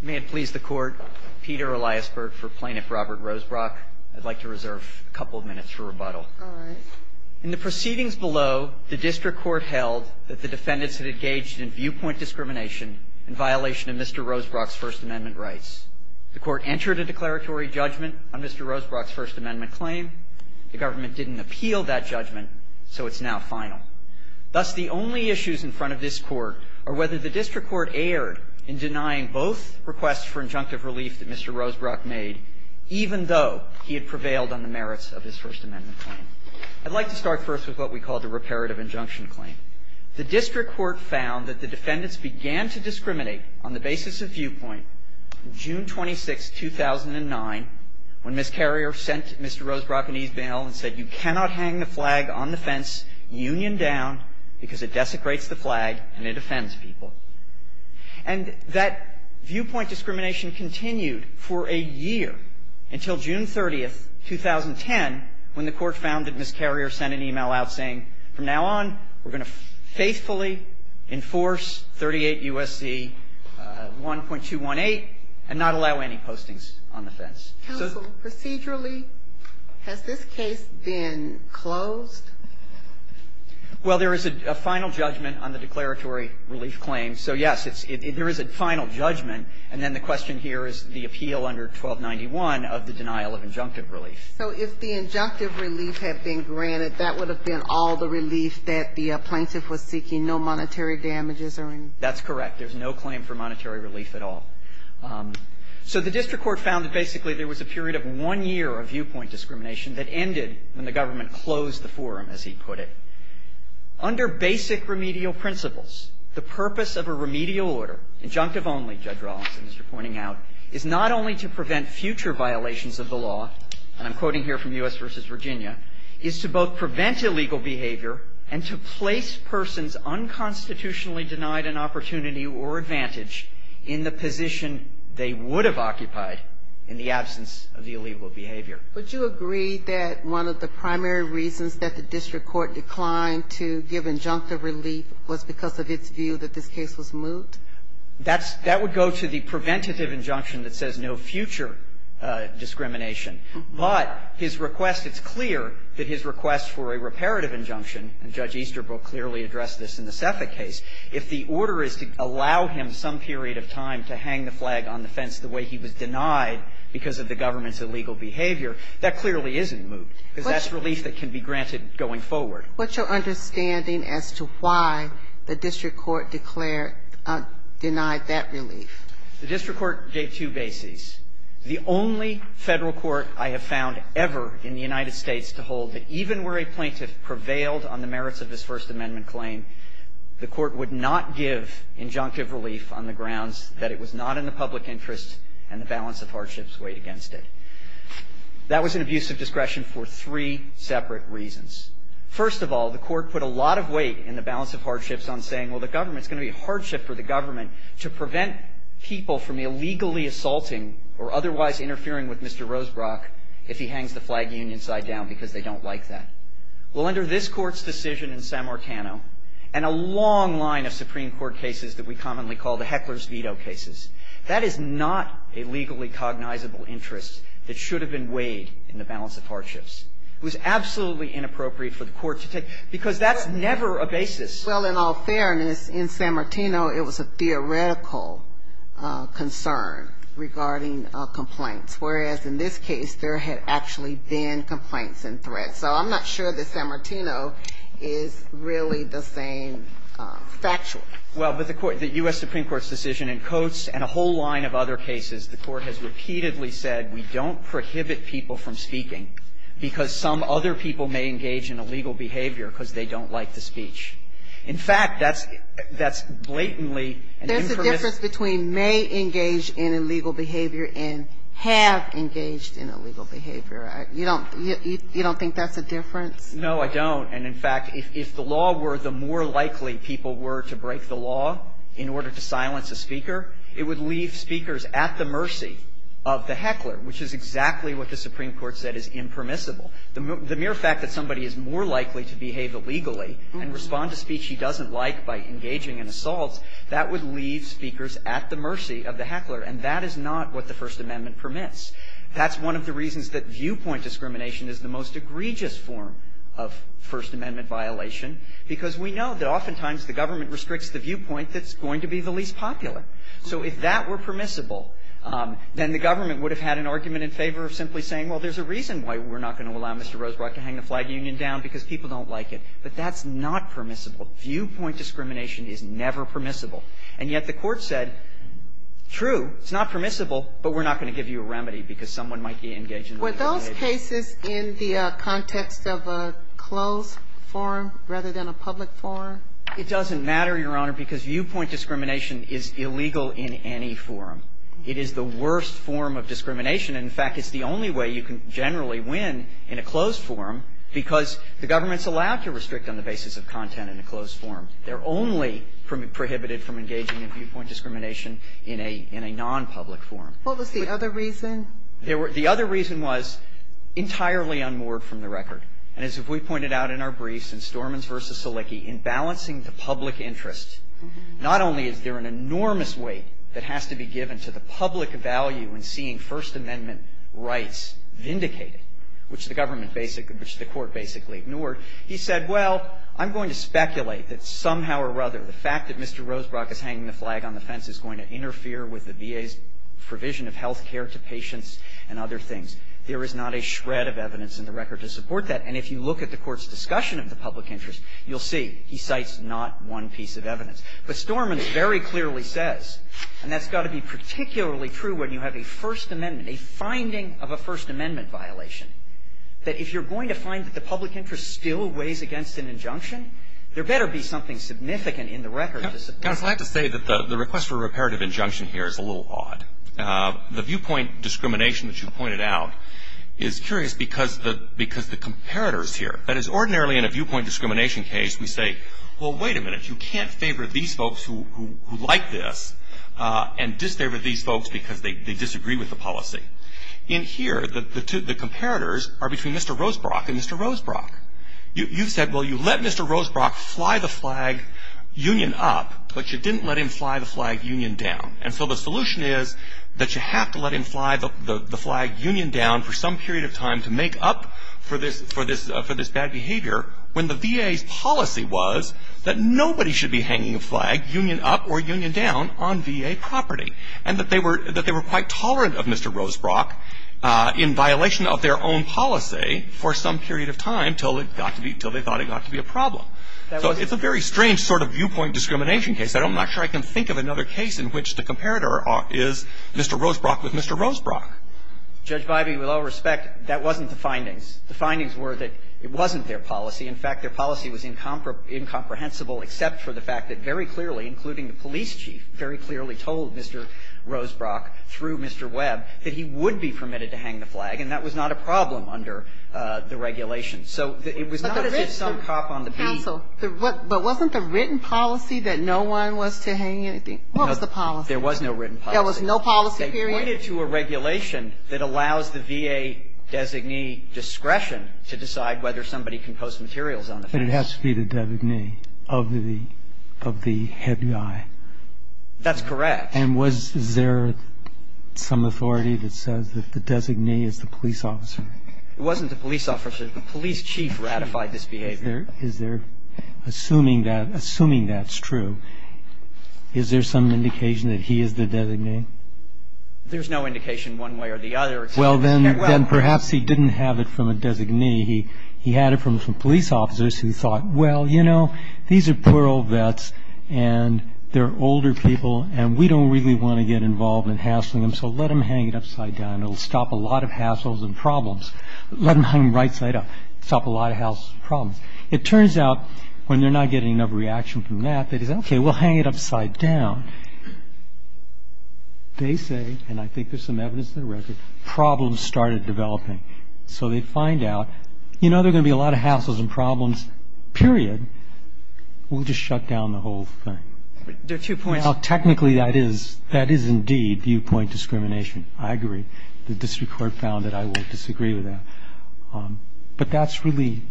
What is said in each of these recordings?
May it please the Court, Peter Eliasberg for Plaintiff Robert Rosebrock. I'd like to reserve a couple of minutes for rebuttal. All right. In the proceedings below, the District Court held that the defendants had engaged in viewpoint discrimination in violation of Mr. Rosebrock's First Amendment rights. The Court entered a declaratory judgment on Mr. Rosebrock's First Amendment claim. The government didn't appeal that judgment, so it's now final. Thus, the only issues in front of this Court are whether the District Court erred in denying both requests for injunctive relief that Mr. Rosebrock made, even though he had prevailed on the merits of his First Amendment claim. I'd like to start first with what we call the reparative injunction claim. The District Court found that the defendants began to discriminate on the basis of viewpoint on June 26, 2009, when Ms. Carrier sent Mr. Rosebrock an e-mail and said, You cannot hang the flag on the fence, union down, because it desecrates the flag and it offends people. And that viewpoint discrimination continued for a year until June 30, 2010, when the Court found that Ms. Carrier sent an e-mail out saying, From now on, we're going to faithfully enforce 38 U.S.C. 1.218 and not allow any postings on the fence. Counsel, procedurally, has this case been closed? Well, there is a final judgment on the declaratory relief claim. So, yes, there is a final judgment, and then the question here is the appeal under 1291 of the denial of injunctive relief. So if the injunctive relief had been granted, that would have been all the relief that the plaintiff was seeking, no monetary damages or anything? That's correct. There's no claim for monetary relief at all. So the district court found that basically there was a period of one year of viewpoint discrimination that ended when the government closed the forum, as he put it. Under basic remedial principles, the purpose of a remedial order, injunctive only, Judge Rawlinson is pointing out, is not only to prevent future violations of the law, and I'm quoting here from U.S. versus Virginia, is to both prevent illegal behavior and to place persons unconstitutionally denied an opportunity or a position they would have occupied in the absence of the illegal behavior. Would you agree that one of the primary reasons that the district court declined to give injunctive relief was because of its view that this case was moot? That's, that would go to the preventative injunction that says no future discrimination. But his request, it's clear that his request for a reparative injunction, and Judge Easterbrook clearly addressed this in the CEPA case. If the order is to allow him some period of time to hang the flag on the fence the way he was denied because of the government's illegal behavior, that clearly isn't moot, because that's relief that can be granted going forward. What's your understanding as to why the district court declared, denied that relief? The district court gave two bases. The only Federal court I have found ever in the United States to hold that even where a plaintiff prevailed on the merits of his First Amendment claim, the court would not give injunctive relief on the grounds that it was not in the public interest and the balance of hardships weighed against it. That was an abuse of discretion for three separate reasons. First of all, the court put a lot of weight in the balance of hardships on saying, well, the government's going to be a hardship for the government to prevent people from illegally assaulting or otherwise interfering with Mr. Well, under this Court's decision in San Martino, and a long line of Supreme Court cases that we commonly call the heckler's veto cases, that is not a legally cognizable interest that should have been weighed in the balance of hardships. It was absolutely inappropriate for the court to take, because that's never a basis. Well, in all fairness, in San Martino, it was a theoretical concern regarding complaints, whereas in this case, there had actually been complaints and threats. So I'm not sure that San Martino is really the same factual. Well, but the court, the U.S. Supreme Court's decision in Coates and a whole line of other cases, the court has repeatedly said, we don't prohibit people from speaking, because some other people may engage in illegal behavior because they don't like the speech. In fact, that's blatantly an impermissible ---- There's a difference between may engage in illegal behavior and have engaged in illegal behavior. You don't think that's a difference? No, I don't. And in fact, if the law were, the more likely people were to break the law in order to silence a speaker, it would leave speakers at the mercy of the heckler, which is exactly what the Supreme Court said is impermissible. The mere fact that somebody is more likely to behave illegally and respond to speech he doesn't like by engaging in assault, that would leave speakers at the mercy of the heckler. And that is not what the First Amendment permits. That's one of the reasons that viewpoint discrimination is the most egregious form of First Amendment violation, because we know that oftentimes the government restricts the viewpoint that's going to be the least popular. So if that were permissible, then the government would have had an argument in favor of simply saying, well, there's a reason why we're not going to allow Mr. Rosebrock to hang the flag union down, because people don't like it. But that's not permissible. Viewpoint discrimination is never permissible. And yet the Court said, true, it's not permissible, but we're not going to give you a remedy because someone might engage in a violation. Were those cases in the context of a closed forum rather than a public forum? It doesn't matter, Your Honor, because viewpoint discrimination is illegal in any forum. It is the worst form of discrimination. In fact, it's the only way you can generally win in a closed forum, because the government's allowed to restrict on the basis of content in a closed forum. They're only prohibited from engaging in viewpoint discrimination in a nonpublic forum. What was the other reason? There were the other reason was entirely unmoored from the record. And as we pointed out in our briefs in Stormins v. Salicki, in balancing the public interest, not only is there an enormous weight that has to be given to the public value in seeing First Amendment rights vindicated, which the government basically the Court basically ignored, he said, well, I'm going to speculate that somehow or other the fact that Mr. Rosebrock is hanging the flag on the fence is going to interfere with the VA's provision of health care to patients and other things. There is not a shred of evidence in the record to support that. And if you look at the Court's discussion of the public interest, you'll see he cites not one piece of evidence. But Stormins very clearly says, and that's got to be particularly true when you have a First Amendment, a finding of a First Amendment violation, that if you're going to find that the public interest still weighs against an injunction, there better be something significant in the record to support it. I would say that the request for reparative injunction here is a little odd. The viewpoint discrimination that you pointed out is curious because the comparators here, that is, ordinarily in a viewpoint discrimination case, we say, well, wait a minute, you can't favor these folks who like this and disfavor these folks because they disagree with the policy. In here, the comparators are between Mr. Rosebrock and Mr. Rosebrock. You've said, well, you let Mr. Rosebrock fly the flag union up, but you didn't let him fly the flag union down. And so the solution is that you have to let him fly the flag union down for some period of time to make up for this bad behavior when the VA's policy was that nobody should be hanging a flag union up or union down on VA property, and that they were quite tolerant of Mr. Rosebrock in violation of their own policy for some period of time until it got to be – until they thought it got to be a problem. So it's a very strange sort of viewpoint discrimination case. I'm not sure I can think of another case in which the comparator is Mr. Rosebrock with Mr. Rosebrock. Judge Biby, with all respect, that wasn't the findings. The findings were that it wasn't their policy. In fact, their policy was incomprehensible except for the fact that very clearly, including the police chief, very clearly told Mr. Rosebrock through Mr. Webb that he would be permitted to hang the flag, and that was not a problem under the regulation. So it was not as if some cop on the beach – But wasn't the written policy that no one was to hang anything? What was the policy? There was no written policy. There was no policy, period? They pointed to a regulation that allows the VA designee discretion to decide whether somebody can post materials on the flag. But it has to be the designee of the – of the head guy. That's correct. And was – is there some authority that says that the designee is the police officer? It wasn't the police officer. The police chief ratified this behavior. Is there – is there – assuming that – assuming that's true, is there some indication that he is the designee? There's no indication one way or the other except – Well, then – then perhaps he didn't have it from a designee. He had it from some police officers who thought, well, you know, these are poor old vets, and they're older people, and we don't really want to get involved in hassling them, so let them hang it upside down. It'll stop a lot of hassles and problems. Let them hang them right side up. It'll stop a lot of hassles and problems. It turns out when they're not getting enough reaction from that, they say, okay, we'll hang it upside down. They say, and I think there's some evidence in the record, problems started developing. So they find out, you know, there are going to be a lot of hassles and problems, period, we'll just shut down the whole thing. There are two points. Now, technically, that is – that is indeed viewpoint discrimination. I agree. The district court found that. I will disagree with that. But that's really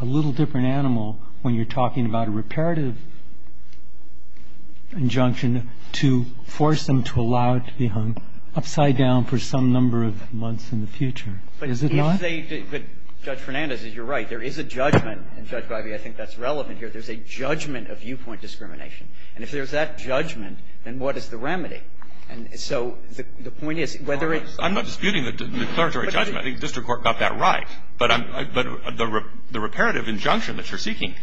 a little different animal when you're talking about a reparative injunction to force them to allow it to be hung upside down for some number of months in the future. Is it not? But if they – but Judge Fernandez, you're right. There is a judgment, and, Judge Breyer, I think that's relevant here. There's a judgment of viewpoint discrimination. And if there's that judgment, then what is the remedy? And so the point is, whether it's – I'm not disputing the declaratory judgment. I think the district court got that right. But I'm – but the reparative injunction that you're seeking,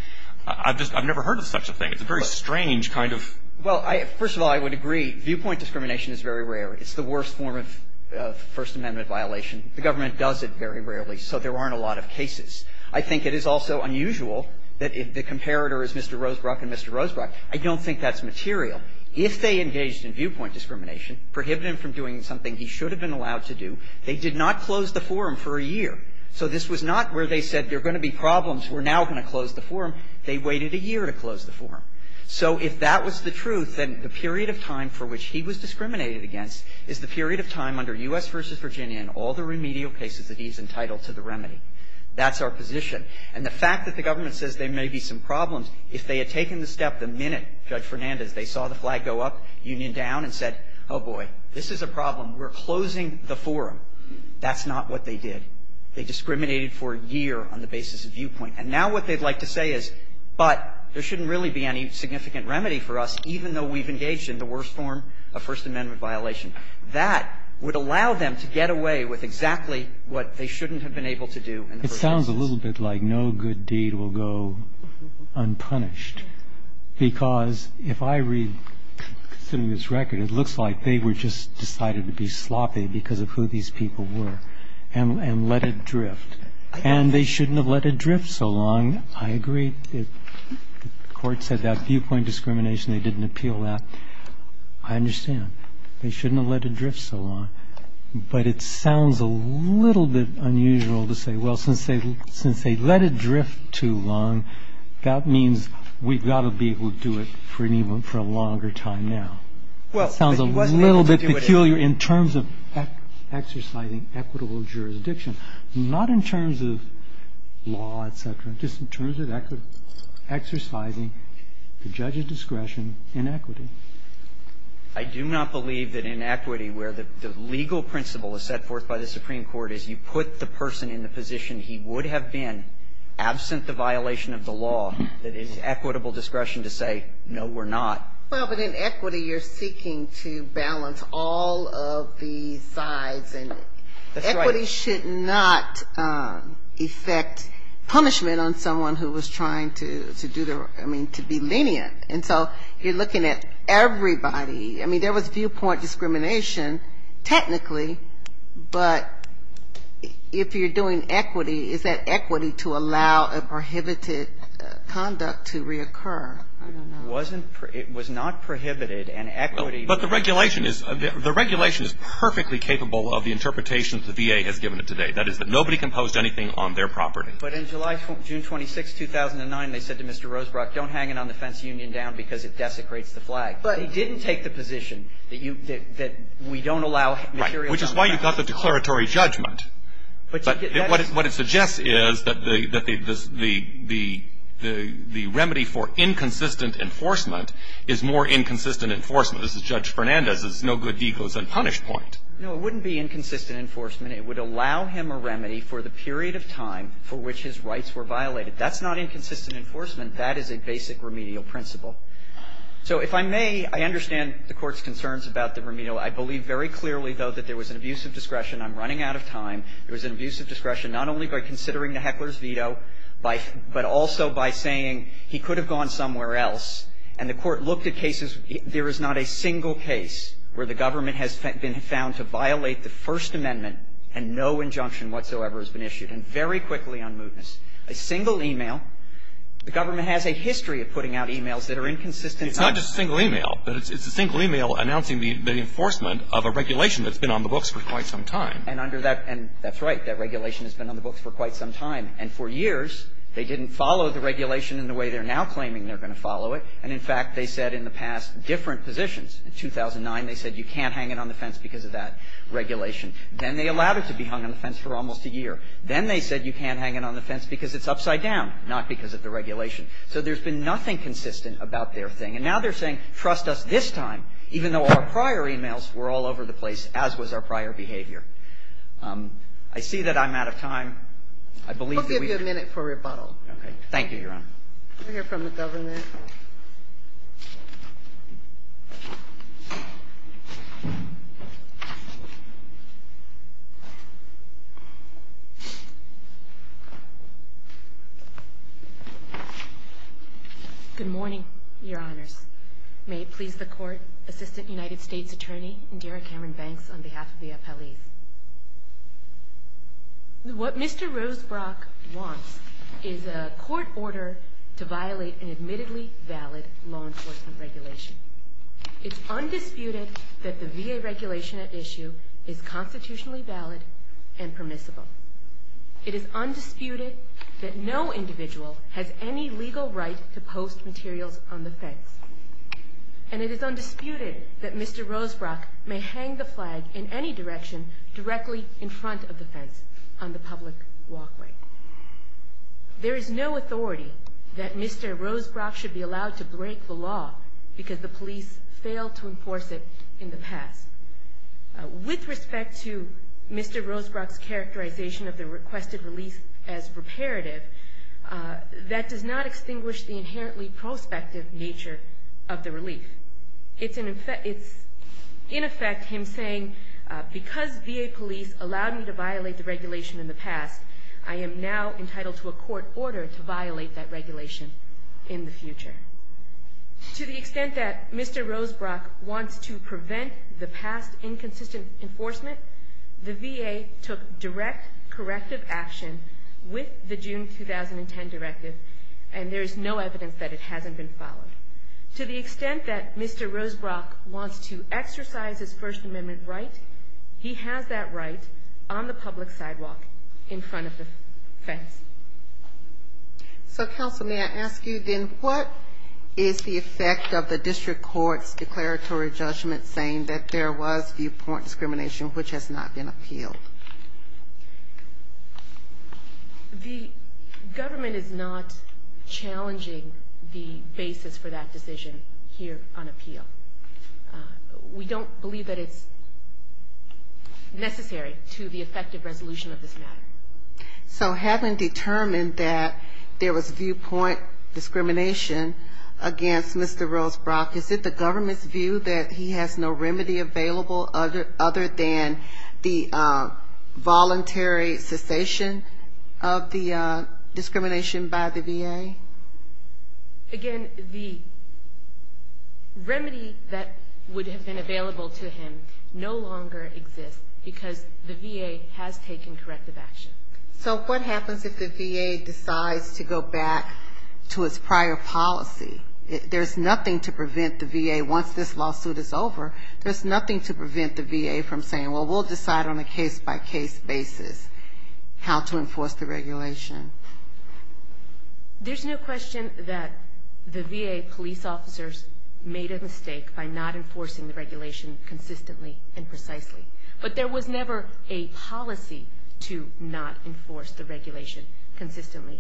I've just – I've never heard of such a thing. It's a very strange kind of – Well, I – first of all, I would agree viewpoint discrimination is very rare. It's the worst form of First Amendment violation. The government does it very rarely, so there aren't a lot of cases. I think it is also unusual that if the comparator is Mr. Rosebrook and Mr. Rosebrook, I don't think that's material. If they engaged in viewpoint discrimination, prohibited him from doing something he should have been allowed to do, they did not close the forum for a year. So this was not where they said there are going to be problems, we're now going to close the forum. They waited a year to close the forum. So if that was the truth, then the period of time for which he was discriminated against is the period of time under U.S. v. Virginia and all the remedial cases that he's entitled to the remedy. That's our position. And the fact that the government says there may be some problems, if they had taken the step the minute Judge Fernandez, they saw the flag go up, union down, and said, oh, boy, this is a problem, we're closing the forum, that's not what they did. They discriminated for a year on the basis of viewpoint. And now what they'd like to say is, but there shouldn't really be any significant remedy for us, even though we've engaged in the worst form of First Amendment violation. That would allow them to get away with exactly what they shouldn't have been able to do in the first instance. It sounds a little bit like no good deed will go unpunished. Because if I read this record, it looks like they were just decided to be sloppy because of who these people were and let it drift. And they shouldn't have let it drift so long. I agree if the court said that viewpoint discrimination, they didn't appeal that. I understand. They shouldn't have let it drift so long. But it sounds a little bit unusual to say, well, since they let it drift too long, that means we've got to be able to do it for an even longer time now. It sounds a little bit peculiar in terms of exercising equitable jurisdiction, not in terms of law, et cetera, just in terms of exercising the judge's discretion in equity. I do not believe that in equity where the legal principle is set forth by the Supreme Court is you put the person in the position he would have been absent the violation of the law that is equitable discretion to say, no, we're not. Well, but in equity, you're seeking to balance all of the sides. And equity should not affect punishment on someone who was trying to do the, I mean, to be lenient. And so you're looking at everybody. I mean, there was viewpoint discrimination technically, but if you're doing equity, is that equity to allow a prohibited conduct to reoccur? I don't know. It was not prohibited and equity. But the regulation is perfectly capable of the interpretation the VA has given it today. That is that nobody composed anything on their property. But in July, June 26, 2009, they said to Mr. Rosebrock, don't hang it on the fence union down because it desecrates the flag. But he didn't take the position that you, that we don't allow materials on the flag. Right, which is why you've got the declaratory judgment. But what it suggests is that the remedy for inconsistent enforcement is more inconsistent enforcement. This is Judge Fernandez's no-good-deals-and-punish point. No, it wouldn't be inconsistent enforcement. It would allow him a remedy for the period of time for which his rights were violated. That's not inconsistent enforcement. That is a basic remedial principle. So if I may, I understand the Court's concerns about the remedial. I believe very clearly, though, that there was an abuse of discretion. I'm running out of time. There was an abuse of discretion, not only by considering the heckler's veto, but also by saying he could have gone somewhere else. And the Court looked at cases. There is not a single case where the government has been found to violate the First Amendment and no injunction whatsoever has been issued. And very quickly on mootness, a single email, the government has a history of putting out emails that are inconsistent. It's not just a single email. But it's a single email announcing the enforcement of a regulation that's been on the books for quite some time. And under that – and that's right. That regulation has been on the books for quite some time. And for years, they didn't follow the regulation in the way they're now claiming they're going to follow it. And in fact, they said in the past different positions. In 2009, they said you can't hang it on the fence because of that regulation. Then they allowed it to be hung on the fence for almost a year. Then they said you can't hang it on the fence because it's upside down, not because of the regulation. So there's been nothing consistent about their thing. And now they're saying, trust us this time, even though our prior emails were all over the place, as was our prior behavior. I see that I'm out of time. I believe that we've been – Kagan. I'll give you a minute for rebuttal. Okay. Thank you, Your Honor. We'll hear from the government. Good morning, Your Honors. May it please the Court, Assistant United States Attorney Indira Cameron Banks on behalf of the appellees. What Mr. Rosebrock wants is a court order to violate an admittedly valid law enforcement regulation. It's undisputed that the VA regulation at issue is constitutionally valid and permissible. It is undisputed that no individual has any legal right to post materials on the fence. And it is undisputed that Mr. Rosebrock may hang the flag in any direction directly in front of the fence on the public walkway. There is no authority that Mr. Rosebrock should be allowed to break the law because the police failed to enforce it in the past. With respect to Mr. Rosebrock's characterization of the requested release as reparative, that does not extinguish the inherently prospective nature of the relief. It's in effect him saying, because VA police allowed me to violate the regulation in the past, I am now entitled to a court order to violate that regulation in the future. To the extent that Mr. Rosebrock wants to prevent the past inconsistent enforcement, the VA took direct corrective action with the June 2010 directive, and there is no evidence that it hasn't been followed. To the extent that Mr. Rosebrock wants to exercise his First Amendment right, he has that right on the public sidewalk in front of the fence. So, counsel, may I ask you then what is the effect of the district court's determination which has not been appealed? The government is not challenging the basis for that decision here on appeal. We don't believe that it's necessary to the effective resolution of this matter. So having determined that there was viewpoint discrimination against Mr. Rosebrock, is it the government's view that he has no remedy available other than the voluntary cessation of the discrimination by the VA? Again, the remedy that would have been available to him no longer exists, because the VA has taken corrective action. So what happens if the VA decides to go back to its prior policy? There's nothing to prevent the VA, once this lawsuit is over, there's nothing to prevent the VA from saying, well, we'll decide on a case-by-case basis how to enforce the regulation. There's no question that the VA police officers made a mistake by not enforcing the regulation consistently and precisely, but there was never a policy to not enforce the regulation consistently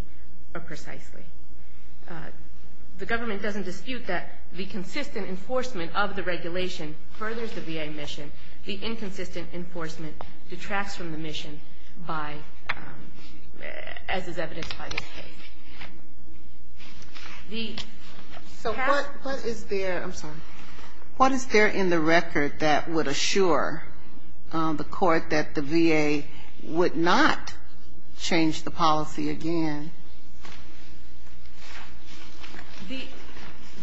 or precisely. The government doesn't dispute that the consistent enforcement of the regulation furthers the VA mission, the inconsistent enforcement detracts from the mission by, as is evidenced by this case. So what is there in the record that would assure the court that the VA would not change the policy again?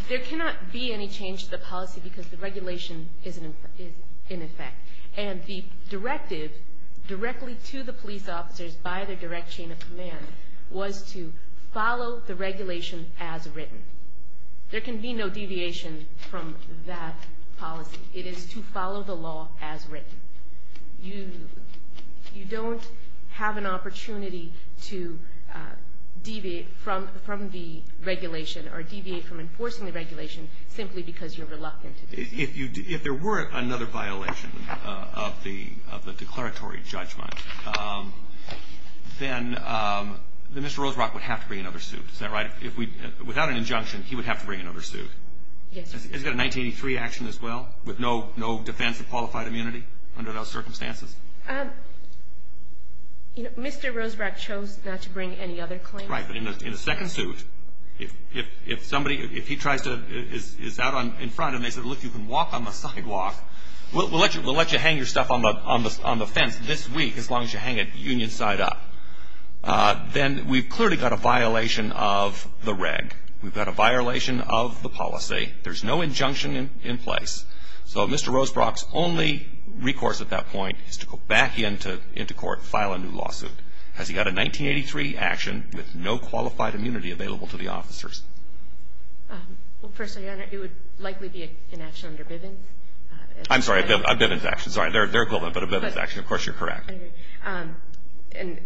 There cannot be any change to the policy because the regulation is in effect. And the directive directly to the police officers by the direct chain of command was to follow the regulation as written. There can be no deviation from that policy. It is to follow the law as written. You don't have an opportunity to deviate from the regulation or deviate from enforcing the regulation simply because you're reluctant to do so. If there were another violation of the declaratory judgment, then Mr. Rosebrock would have to bring another suit, is that right? Without an injunction, he would have to bring another suit. Has he got a 1983 action as well with no defense of qualified immunity under those circumstances? Mr. Rosebrock chose not to bring any other claim. Right, but in a second suit, if somebody, if he tries to, is out in front and they say, look, you can walk on the sidewalk, we'll let you hang your stuff on the fence this week as long as you hang it union side up. Then we've clearly got a violation of the reg. We've got a violation of the policy. There's no injunction in place. So Mr. Rosebrock's only recourse at that point is to go back into court and file a new lawsuit. Has he got a 1983 action with no qualified immunity available to the officers? Well, firstly, it would likely be an action under Bivens. I'm sorry, a Bivens action. Sorry, they're equivalent, but a Bivens action. Of course, you're correct. And,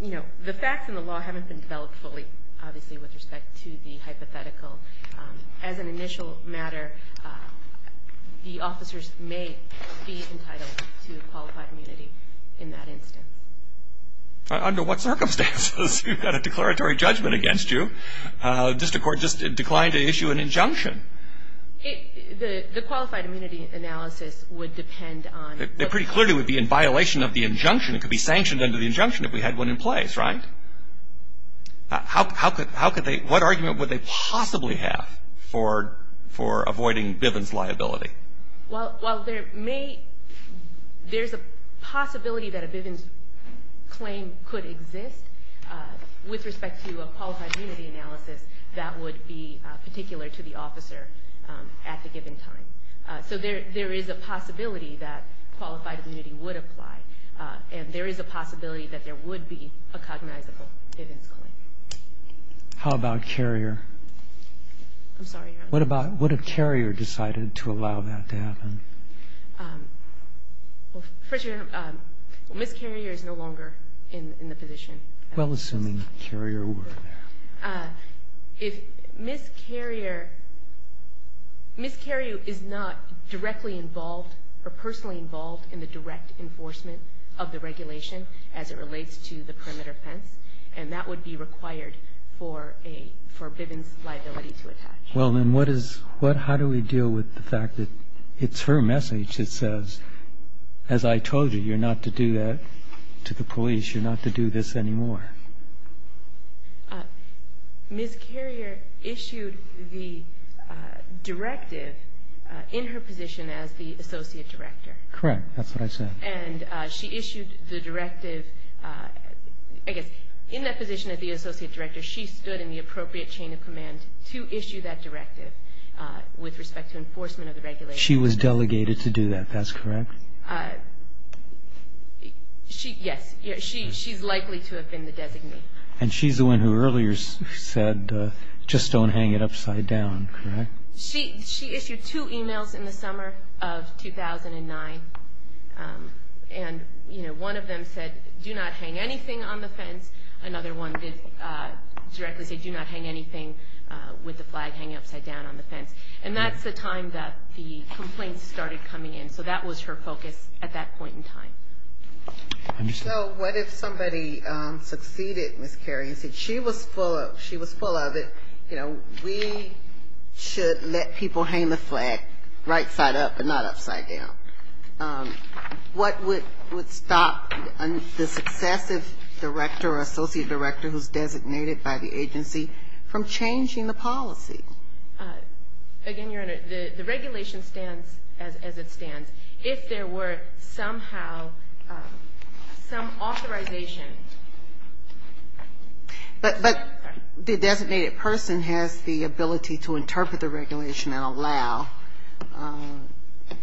you know, the facts in the law haven't been developed fully, obviously, with respect to the hypothetical. As an initial matter, the officers may be entitled to qualified immunity in that instance. Under what circumstances? You've got a declaratory judgment against you. District Court just declined to issue an injunction. The qualified immunity analysis would depend on... It pretty clearly would be in violation of the injunction. It could be sanctioned under the injunction if we had one in place, right? What argument would they possibly have for avoiding Bivens liability? Well, there's a possibility that a Bivens claim could exist with respect to a qualified immunity analysis that would be particular to the officer at the given time. So there is a possibility that qualified immunity would apply, and there is a possibility that there would be a cognizable Bivens claim. How about Carrier? I'm sorry, Your Honor? What if Carrier decided to allow that to happen? Well, first of all, Ms. Carrier is no longer in the position. Well, assuming Carrier were there. If Ms. Carrier... Ms. Carrier is not directly involved or personally involved in the direct enforcement of the regulation as it relates to the perimeter fence, and that would be required for a Bivens liability to attach. Well, then what is... How do we deal with the fact that it's her message that says, as I told you, you're not to do that to the police. You're not to do this anymore. Ms. Carrier issued the directive in her position as the Associate Director. Correct. That's what I said. And she issued the directive... I guess, in that position as the Associate Director, she stood in the appropriate chain of command to issue that directive with respect to enforcement of the regulation. She was delegated to do that. That's correct? Yes. She's likely to have been the designee. And she's the one who earlier said, just don't hang it upside down, correct? She issued two emails in the summer of 2009. And, you know, one of them said, do not hang anything on the fence. Another one did directly say, do not hang anything with the flag hanging upside down on the fence. And that's the time that the complaints started coming in. So that was her focus at that point in time. So what if somebody succeeded Ms. Carrier and said she was full of it, you know, we should let people hang the flag right side up and not upside down? What would stop the successive director or Associate Director who's designated by the agency from changing the policy? Again, Your Honor, the regulation stands as it stands. If there were somehow some authorization... But the designated person has the ability to interpret the regulation and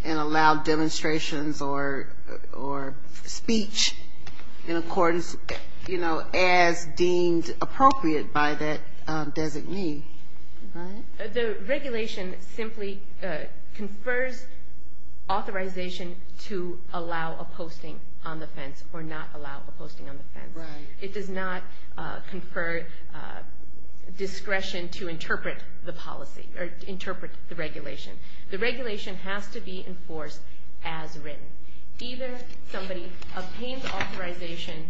allow demonstrations or speech in accordance, you know, as deemed appropriate by that designee, right? The regulation simply confers authorization to allow a posting on the fence or not allow a posting on the fence. It does not confer discretion to interpret the policy or interpret the regulation. The regulation has to be enforced as written. Either somebody obtains authorization,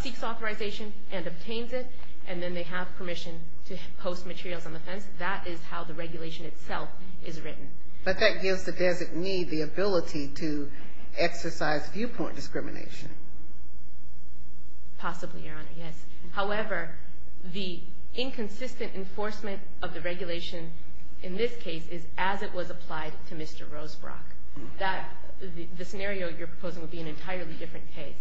seeks authorization and obtains it, and then they have permission to post materials on the fence. That is how the regulation itself is written. But that gives the designee the ability to exercise viewpoint discrimination. Possibly, Your Honor, yes. However, the inconsistent enforcement of the regulation in this case is as it was applied to Mr. Rosebrock. The scenario you're proposing would be an entirely different case.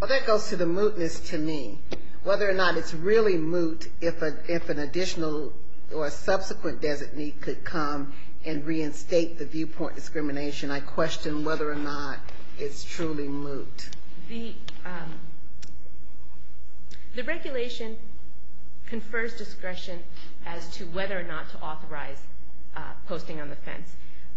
Well, that goes to the mootness to me. Whether or not it's really moot if an additional or subsequent designee could come and reinstate the viewpoint discrimination, I question whether or not it's truly moot. The regulation confers discretion as to whether or not to authorize posting on the fence.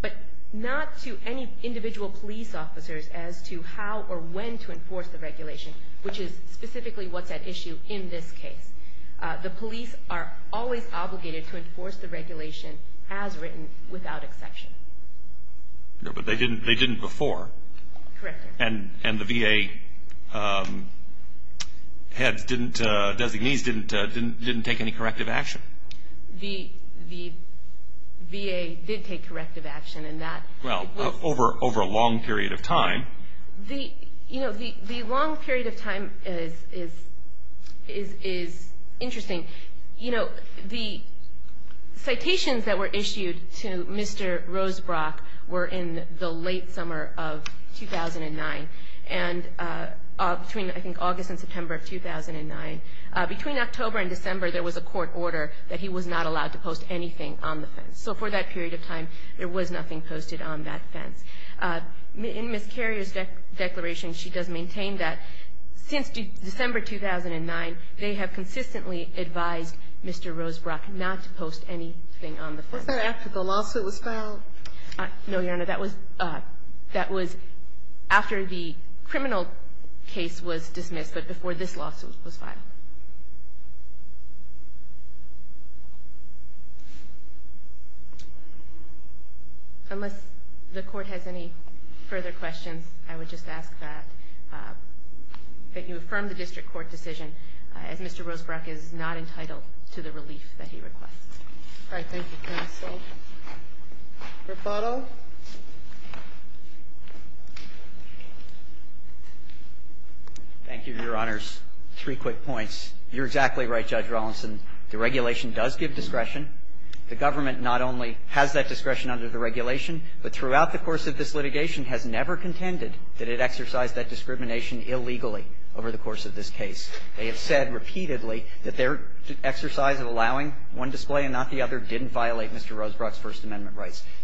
But not to any individual police officers as to how or when to enforce the regulation, which is specifically what's at issue in this case. The police are always obligated to enforce the regulation as written, without exception. But they didn't before. Correct, Your Honor. And the VA heads, designees, didn't take any corrective action. The VA did take corrective action. Well, over a long period of time. The long period of time is interesting. The citations that were issued to Mr. Rosebrock were in the late summer of 2009. Between August and September of 2009. Between October and December there was a court order that he was not allowed to post anything on the fence. So for that period of time, there was nothing posted on that fence. In Ms. Carrier's declaration, she does maintain that since December 2009, they have consistently advised Mr. Rosebrock not to post anything on the fence. Was that after the lawsuit was filed? No, Your Honor. That was after the criminal case was dismissed, but before this lawsuit was filed. Unless the court has any further questions, I would just ask that you affirm the district court decision as Mr. Rosebrock is not entitled to the relief that he requests. All right. Thank you, counsel. Rebuttal? Thank you, Your Honors. Three quick points. You're exactly right, Judge Rawlinson. The regulation does give discretion. The government not only has that discretion under the regulation, but throughout the course of this litigation has never contended that it exercised that discrimination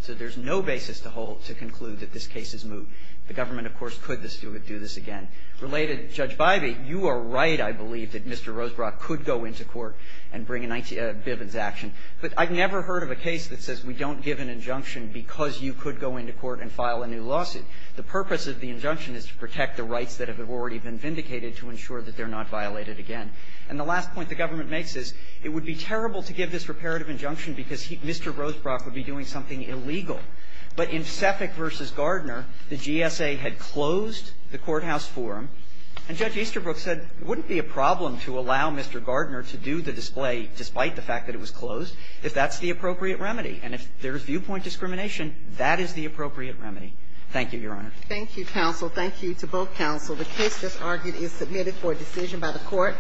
So there's no basis to hold to conclude that this case is moot. The government, of course, could do this again. Related, Judge Bybee, you are right, I believe, that Mr. Rosebrock could go into court and bring a Bivens action. But I've never heard of a case that says we don't give an injunction because you could go into court and file a new lawsuit. The purpose of the injunction is to protect the rights that have already been vindicated to ensure that they're not violated again. And the last point the government makes is it would be terrible to give this reparative injunction because Mr. Rosebrock would be doing something illegal. But in Seffick v. Gardner, the GSA had closed the courthouse forum and Judge Easterbrook said it wouldn't be a problem to allow Mr. Gardner to do the display despite the fact that it was closed if that's the appropriate remedy. And if there's viewpoint discrimination, that is the appropriate remedy. Thank you, Your Honor. Thank you, counsel. Thank you to both counsel. The case just argued is submitted for decision by the court.